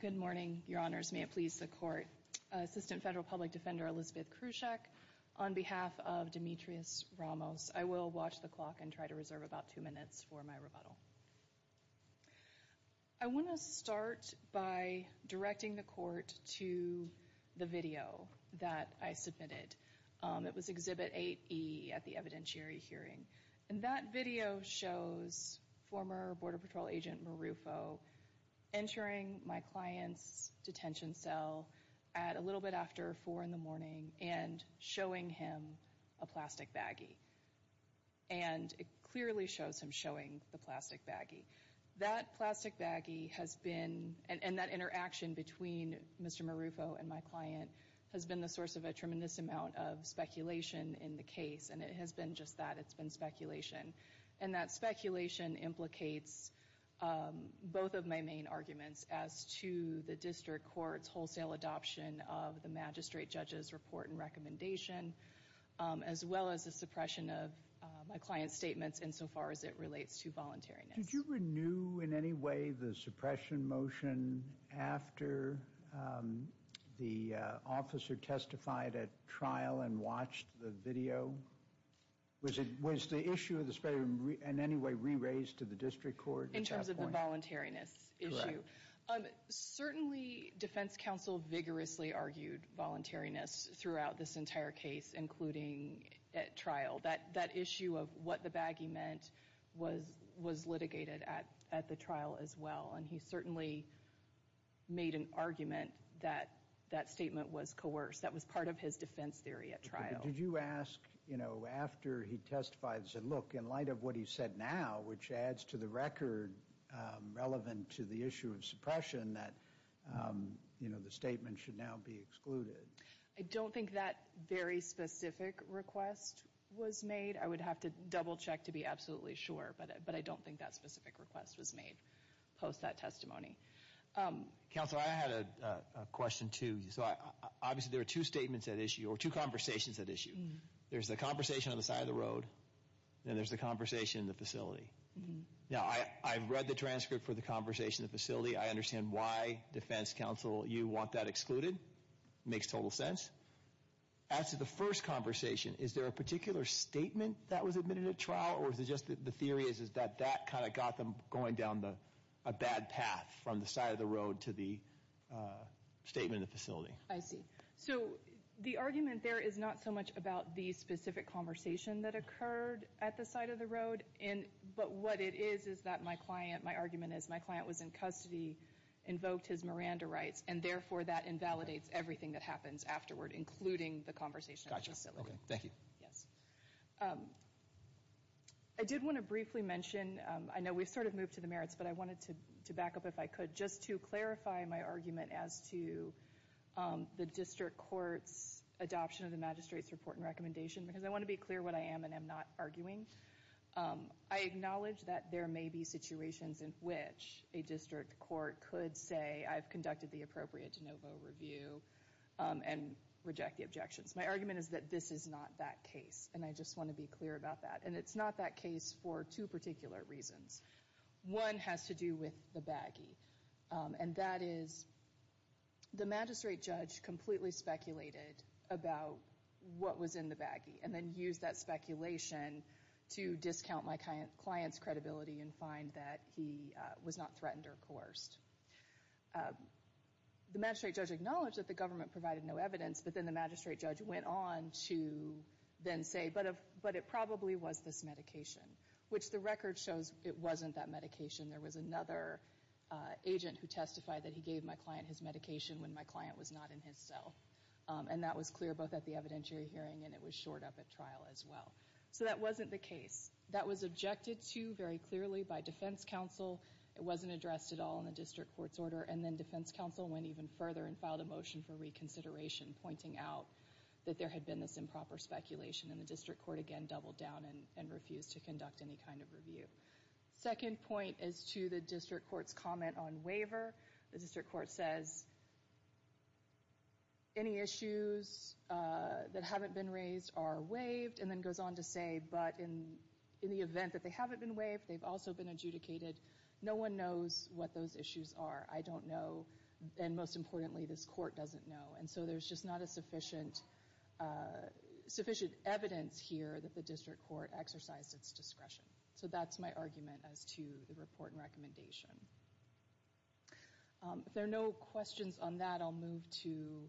Good morning, Your Honors. May it please the Court. Assistant Federal Public Defender Elizabeth Kruczak on behalf of Demetrius Ramos. I will watch the clock and try to reserve about two minutes for my rebuttal. I want to start by directing the Court to the video that I submitted. It was Exhibit 8E at the evidentiary hearing. And that video shows former Border Patrol Agent Marufo entering my client's detention cell at a little bit after four in the morning and showing him a plastic baggie. And it clearly shows him showing the plastic baggie. That plastic baggie has been, and that interaction between Mr. Marufo and my client has been the source of a tremendous amount of speculation in the case. And it has been just that. It's been speculation. And that speculation implicates both of my main arguments as to the District Court's wholesale adoption of the magistrate judge's report and recommendation, as well as the suppression of my client's statements insofar as it relates to voluntariness. Did you renew in any way the suppression motion after the officer testified at trial and watched the video? Was the issue of the speculation in any way re-raised to the District Court at that point? The voluntariness issue. Certainly, defense counsel vigorously argued voluntariness throughout this entire case, including at trial. That issue of what the baggie meant was litigated at the trial as well. And he certainly made an argument that that statement was coerced. That was part of his defense theory at trial. Did you ask after he testified, look, in light of what he said now, which adds to the record relevant to the issue of suppression, that the statement should now be excluded? I don't think that very specific request was made. I would have to double check to be absolutely sure. But I don't think that specific request was made post that testimony. Counsel, I had a question, too. Obviously, there are two statements at issue, or two conversations at issue. There's the conversation on the side of the road, and there's the conversation in the facility. Now, I've read the transcript for the conversation in the facility. I understand why, defense counsel, you want that excluded. Makes total sense. As to the first conversation, is there a particular statement that was admitted at trial, or is it just the theory is that that kind of got them going down a bad path from the side of the road to the statement in the facility? I see. So the argument there is not so much about the specific conversation that occurred at the side of the road. But what it is, is that my client, my argument is my client was in custody, invoked his Miranda rights, and therefore, that invalidates everything that happens afterward, including the conversation at the facility. Gotcha. Okay. Thank you. Yes. I did want to briefly mention, I know we've sort of moved to the merits, but I wanted to back up if I could, just to clarify my argument as to the district court's adoption of the magistrate's report and recommendation. Because I want to be clear what I am and am not arguing. I acknowledge that there may be situations in which a district court could say I've conducted the appropriate de novo review and reject the objections. My argument is that this is not that case, and I just want to be clear about that. And it's not that case for two particular reasons. One has to do with the baggie. And that is, the magistrate judge completely speculated about what was in the baggie, and then used that speculation to discount my client's credibility and find that he was not threatened or coerced. The magistrate judge acknowledged that the government provided no evidence, but then the magistrate judge went on to then say, but it probably was this medication. Which the record shows it wasn't that medication. There was another agent who testified that he gave my client his medication when my client was not in his cell. And that was clear both at the evidentiary hearing and it was shored up at trial as well. So that wasn't the case. That was objected to very clearly by defense counsel. It wasn't addressed at all in the district court's order. And then defense counsel went even further and filed a motion for reconsideration, pointing out that there had been this improper speculation. And the district court again doubled down and refused to conduct any kind of review. Second point is to the district court's comment on waiver. The district court says, any issues that haven't been raised are waived. And then goes on to say, but in the event that they haven't been waived, they've also been adjudicated. No one knows what those issues are. I don't know. And most importantly, this court doesn't know. And so there's just not a sufficient evidence here that the district court exercised its discretion. So that's my argument as to the report and recommendation. If there are no questions on that, I'll move to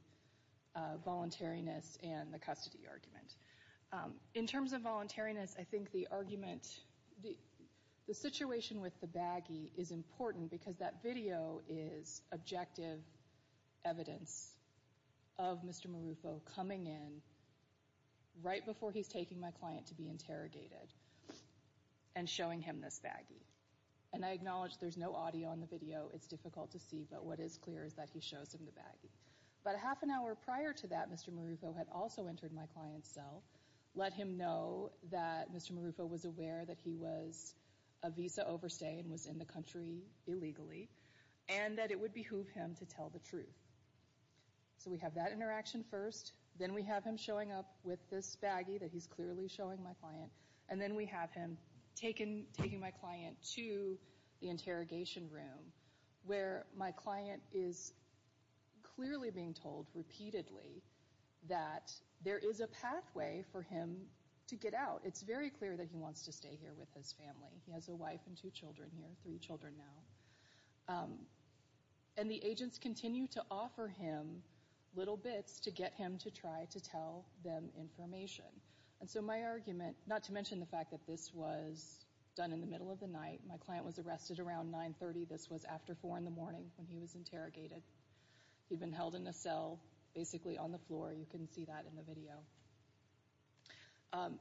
voluntariness and the custody argument. In terms of voluntariness, I think the argument, the situation with the baggie is important because that video is objective evidence of Mr. Marufo coming in right before he's taking my client to be interrogated and showing him this baggie. And I acknowledge there's no audio on the video. It's difficult to see. But what is clear is that he shows him the baggie. About a half an hour prior to that, Mr. Marufo had also entered my client's cell, let him know that Mr. Marufo was aware that he was a visa overstay and was in the country illegally, and that it would behoove him to tell the truth. So we have that interaction first. Then we have him showing up with this baggie that he's clearly showing my client. And then we have him taking my client to the interrogation room where my client is clearly being told repeatedly that there is a pathway for him to get out. It's very clear that he wants to stay here with his family. He has a wife and two children here, three children now. And the agents continue to offer him little bits to get him to try to tell them information. And so my argument, not to mention the fact that this was done in the middle of the night. My client was arrested around 9.30. This was after 4 in the morning when he was interrogated. He'd been held in a cell, basically on the floor. You can see that in the video.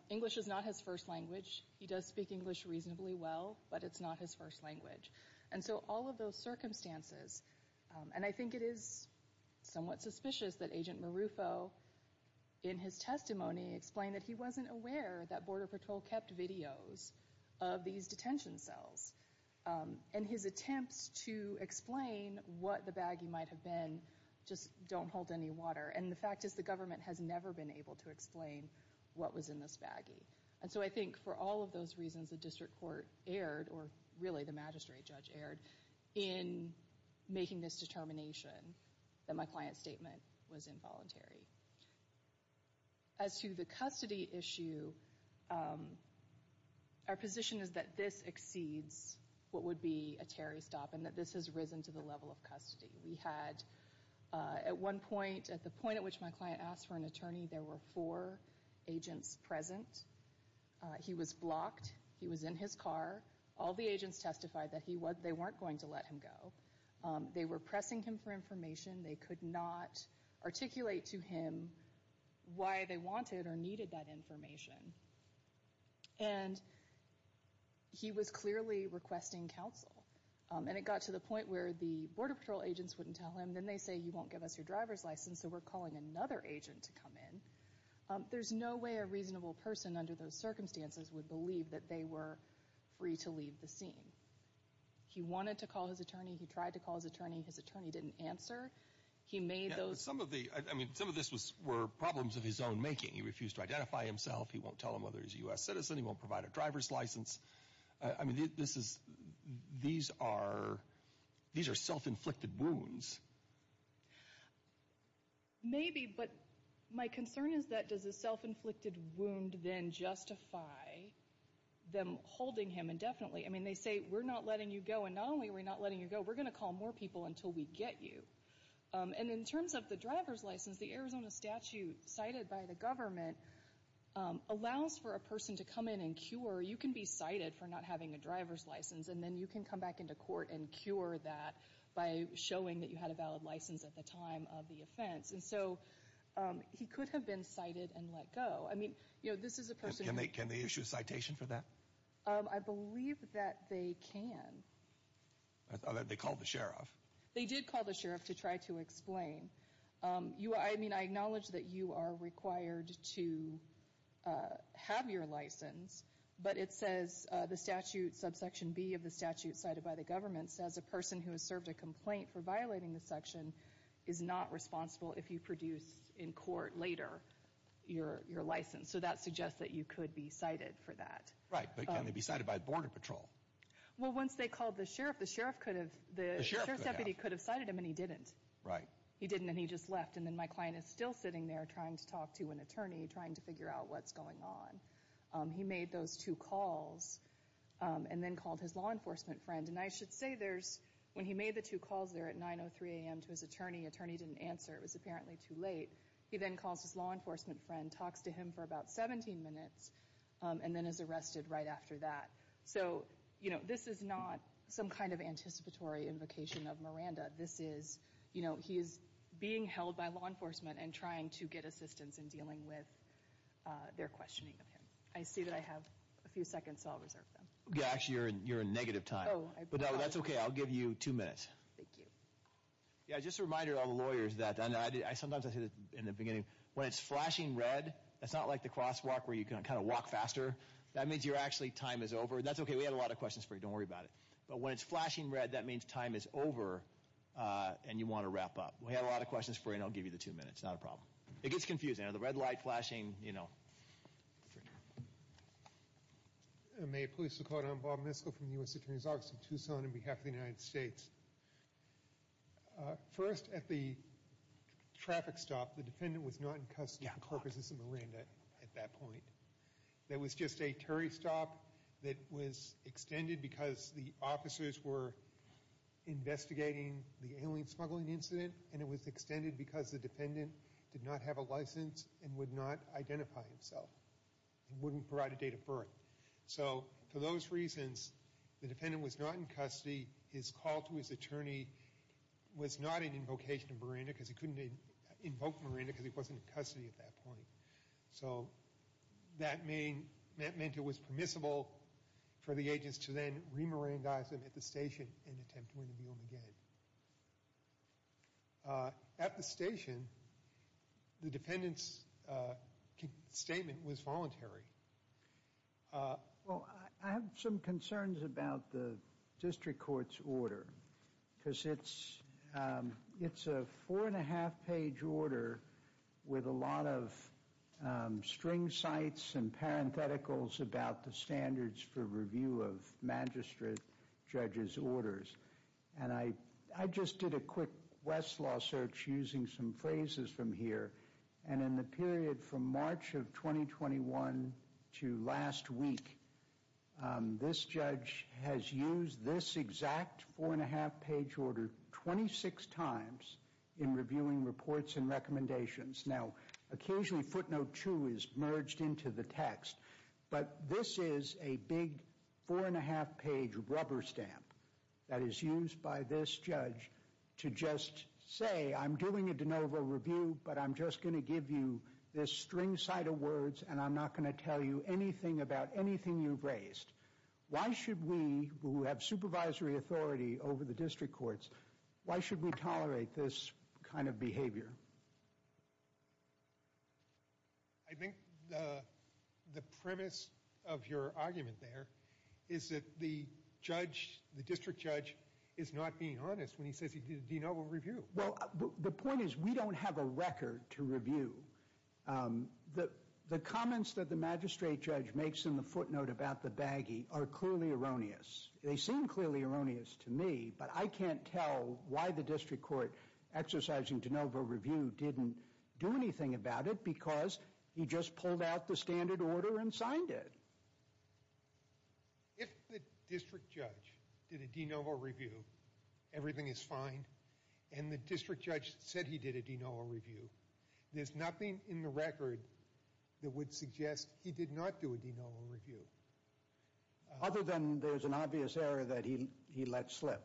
English is not his first language. He does speak English reasonably well, but it's not his first language. And so all of those circumstances, and I think it is somewhat suspicious that Agent Marufo, in his testimony, explained that he wasn't aware that Border Patrol kept videos of these detention cells. And his attempts to explain what the baggie might have been just don't hold any water. And the fact is the government has never been able to explain what was in this baggie. And so I think for all of those reasons, the district court erred, or really the magistrate judge erred, in making this determination that my client's statement was involuntary. As to the custody issue, our position is that this exceeds what would be a Terry stop, and that this has risen to the level of custody. We had at one point, at the point at which my client asked for an attorney, there were 4 agents present. He was blocked. He was in his car. All the agents testified that they weren't going to let him go. They were pressing him for information. They could not articulate to him why they wanted or needed that information. And he was clearly requesting counsel. And it got to the point where the Border Patrol agents wouldn't tell him. Then they say, you won't give us your driver's license, so we're calling another agent to come in. There's no way a reasonable person under those circumstances would believe that they were free to leave the scene. He wanted to call his attorney. He tried to call his attorney. His attorney didn't answer. He made those... Yeah, but some of the, I mean, some of this were problems of his own making. He refused to identify himself. He won't tell him whether he's a U.S. citizen. He won't provide a driver's license. I mean, these are self-inflicted wounds. Maybe, but my concern is that does a self-inflicted wound then justify them holding him indefinitely? I mean, they say, we're not letting you go. And not only are we not letting you go, we're going to call more people until we get you. And in terms of the driver's license, the Arizona statute cited by the government allows for a person to come in and cure. You can be cited for not having a driver's license, and then you can come back into court and cure that by showing that you had a valid license at the time of the offense. And so he could have been cited and let go. I mean, you know, this is a person... Can they issue a citation for that? I believe that they can. They called the sheriff. They did call the sheriff to try to explain. I mean, I acknowledge that you are required to have your license, but it says the statute, subsection B of the statute cited by the government, says a person who has served a complaint for violating the section is not responsible if you produce in court later your license. So that suggests that you could be cited for that. Right, but can they be cited by Border Patrol? Well, once they called the sheriff, the sheriff could have... The sheriff could have. The sheriff's deputy could have cited him, and he didn't. Right. He didn't, and he just left. And then my client is still sitting there trying to talk to an attorney, trying to figure out what's going on. He made those two calls and then called his law enforcement friend. And I should say there's... When he made the two calls there at 9.03 a.m. to his attorney, attorney didn't answer. It was apparently too late. He then calls his law enforcement friend, talks to him for about 17 minutes, and then is arrested right after that. So, you know, this is not some kind of anticipatory invocation of Miranda. This is, you know, he's being held by law enforcement and trying to get assistance in dealing with their questioning of him. I see that I have a few seconds, so I'll reserve them. Yeah, actually, you're in negative time. Oh, I apologize. But that's okay. I'll give you two minutes. Thank you. Yeah, just a reminder to all the lawyers that, and sometimes I say this in the beginning, when it's flashing red, that's not like the crosswalk where you can kind of walk faster. That means you're actually, time is over, and that's okay. We had a lot of questions for you. Don't worry about it. But when it's flashing red, that means time is over and you want to wrap up. We had a lot of questions for you, and I'll give you the two minutes. Not a problem. It gets confusing. The red light flashing, you know. May it please the court. I'm Bob Miskell from the U.S. Attorney's Office of Tucson on behalf of the United States. First, at the traffic stop, the defendant was not in custody for purposes of Miranda at that point. That was just a turry stop that was extended because the officers were investigating the alien smuggling incident, and it was extended because the defendant did not have a license and would not identify himself. He wouldn't provide a date of birth. So for those reasons, the defendant was not in custody. His call to his attorney was not an invocation of Miranda because he couldn't invoke Miranda because he wasn't in custody at that point. So that meant it was permissible for the agents to then re-Mirandaize him at the station and attempt to interview him again. At the station, the defendant's statement was voluntary. Well, I have some concerns about the district court's order because it's a four-and-a-half-page order with a lot of string cites and parentheticals about the standards for review of magistrate judges' orders. And I just did a quick Westlaw search using some phrases from here. And in the period from March of 2021 to last week, this judge has used this exact four-and-a-half-page order 26 times in reviewing reports and recommendations. Now, occasionally footnote two is merged into the text, but this is a big four-and-a-half-page rubber stamp that is used by this judge to just say, I'm doing a de novo review, but I'm just going to give you this string cite of words and I'm not going to tell you anything about anything you've raised. Why should we, who have supervisory authority over the district courts, why should we tolerate this kind of behavior? I think the premise of your argument there is that the judge, the district judge, is not being honest when he says he did a de novo review. Well, the point is we don't have a record to review. The comments that the magistrate judge makes in the footnote about the baggie are clearly erroneous. They seem clearly erroneous to me, but I can't tell why the district court exercising de novo review didn't do anything about it because he just pulled out the standard order and signed it. If the district judge did a de novo review, everything is fine, and the district judge said he did a de novo review, there's nothing in the record that would suggest he did not do a de novo review. Other than there's an obvious error that he let slip.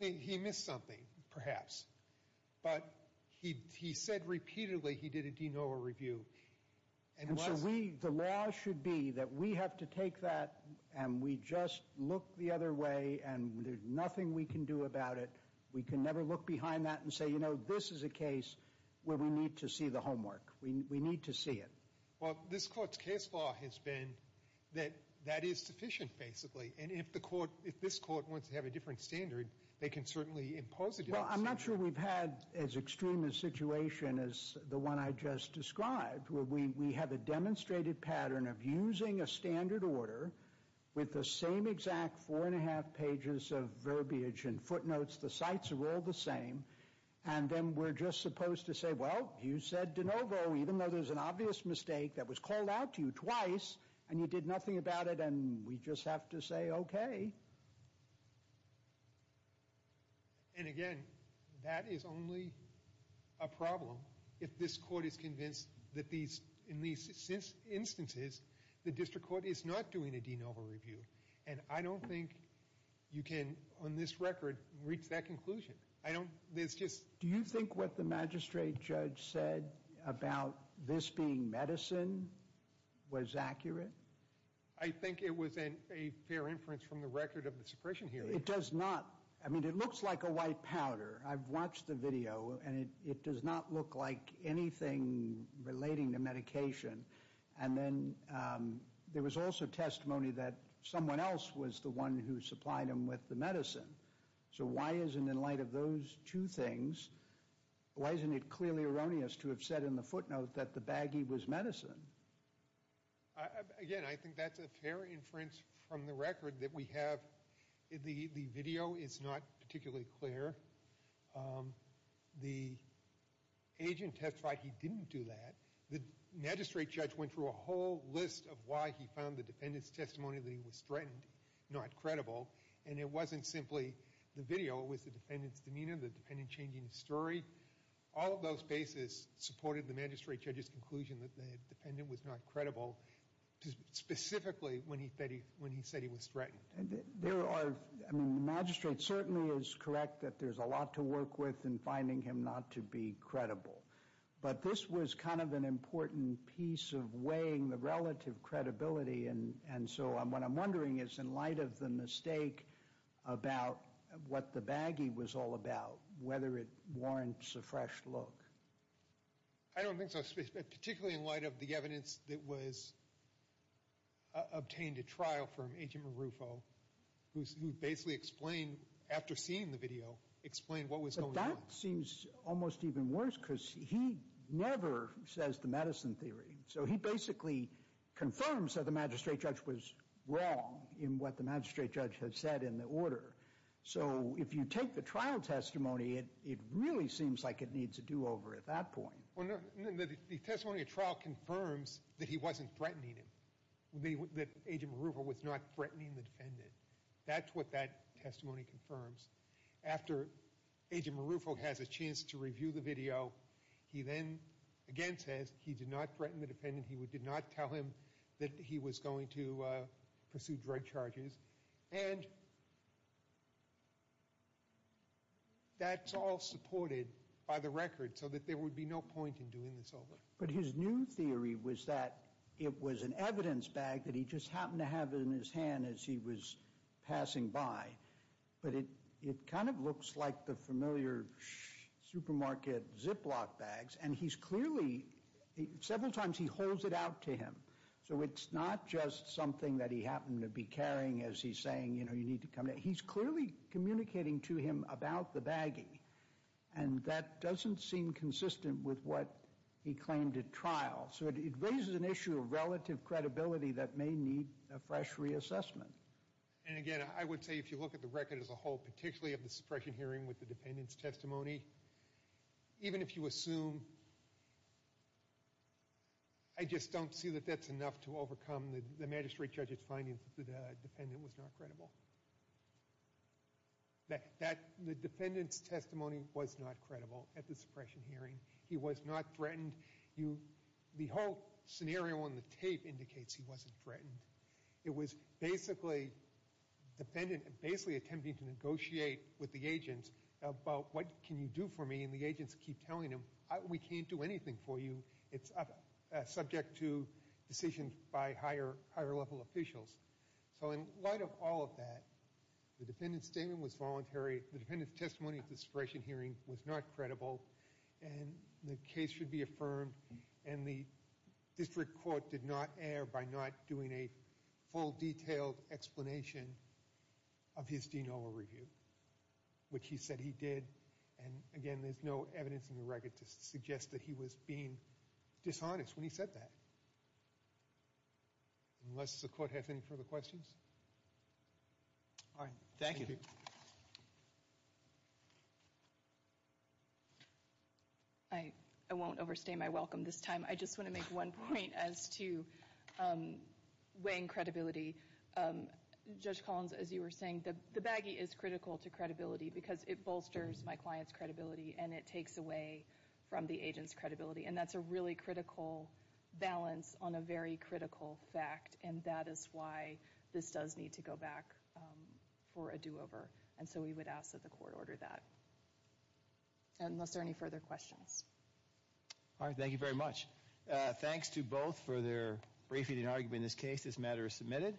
He missed something, perhaps, but he said repeatedly he did a de novo review. And so the law should be that we have to take that and we just look the other way and there's nothing we can do about it. We can never look behind that and say, you know, this is a case where we need to see the homework. We need to see it. Well, this court's case law has been that that is sufficient, basically, and if this court wants to have a different standard, they can certainly impose it. Well, I'm not sure we've had as extreme a situation as the one I just described where we have a demonstrated pattern of using a standard order with the same exact four and a half pages of verbiage and footnotes. The sites are all the same. And then we're just supposed to say, well, you said de novo, even though there's an obvious mistake that was called out to you twice and you did nothing about it and we just have to say okay. And again, that is only a problem if this court is convinced that these, in these instances, the district court is not doing a de novo review. And I don't think you can, on this record, reach that conclusion. I don't, there's just. Do you think what the magistrate judge said about this being medicine was accurate? I think it was a fair inference from the record of the suppression hearing. It does not. I mean, it looks like a white powder. I've watched the video and it does not look like anything relating to medication. And then there was also testimony that someone else was the one who supplied him with the medicine. So why isn't, in light of those two things, why isn't it clearly erroneous to have said in the footnote that the baggie was medicine? Again, I think that's a fair inference from the record that we have. The video is not particularly clear. The agent testified he didn't do that. The magistrate judge went through a whole list of why he found the defendant's testimony that he was threatened not credible. And it wasn't simply the video. It was the defendant's demeanor, the defendant changing his story. All of those bases supported the magistrate judge's conclusion that the defendant was not credible, specifically when he said he was threatened. There are, I mean, the magistrate certainly is correct that there's a lot to work with in finding him not to be credible. But this was kind of an important piece of weighing the relative credibility. And so what I'm wondering is, in light of the mistake about what the baggie was all about, whether it warrants a fresh look. I don't think so, particularly in light of the evidence that was obtained at trial from Agent Marufo, who basically explained, after seeing the video, explained what was going on. But that seems almost even worse, because he never says the medicine theory. So he basically confirms that the magistrate judge was wrong in what the magistrate judge had said in the order. So if you take the trial testimony, it really seems like it needs a do-over at that point. The testimony at trial confirms that he wasn't threatening him, that Agent Marufo was not threatening the defendant. That's what that testimony confirms. After Agent Marufo has a chance to review the video, he then again says he did not threaten the defendant. He did not tell him that he was going to pursue drug charges. And that's all supported by the record, so that there would be no point in doing this over. But his new theory was that it was an evidence bag that he just happened to have in his hand as he was passing by. But it kind of looks like the familiar supermarket Ziploc bags. And he's clearly—several times he holds it out to him. So it's not just something that he happened to be carrying as he's saying, you know, you need to come— he's clearly communicating to him about the baggie. And that doesn't seem consistent with what he claimed at trial. So it raises an issue of relative credibility that may need a fresh reassessment. And again, I would say if you look at the record as a whole, particularly of the suppression hearing with the defendant's testimony, even if you assume—I just don't see that that's enough to overcome the magistrate judge's findings that the defendant was not credible. The defendant's testimony was not credible at the suppression hearing. He was not threatened. The whole scenario on the tape indicates he wasn't threatened. It was basically attempting to negotiate with the agents about what can you do for me. And the agents keep telling him, we can't do anything for you. It's subject to decisions by higher-level officials. So in light of all of that, the defendant's statement was voluntary. The defendant's testimony at the suppression hearing was not credible. And the case should be affirmed. And the district court did not err by not doing a full, detailed explanation of his de novo review, which he said he did. And again, there's no evidence in the record to suggest that he was being dishonest when he said that. Unless the court has any further questions? All right. Thank you. Thank you. I won't overstay my welcome this time. I just want to make one point as to weighing credibility. Judge Collins, as you were saying, the baggie is critical to credibility because it bolsters my client's credibility and it takes away from the agent's credibility. And that's a really critical balance on a very critical fact. And that is why this does need to go back for a do-over. And so we would ask that the court order that. And unless there are any further questions? All right. Thank you very much. Thanks to both for their briefing and argument in this case. This matter is submitted.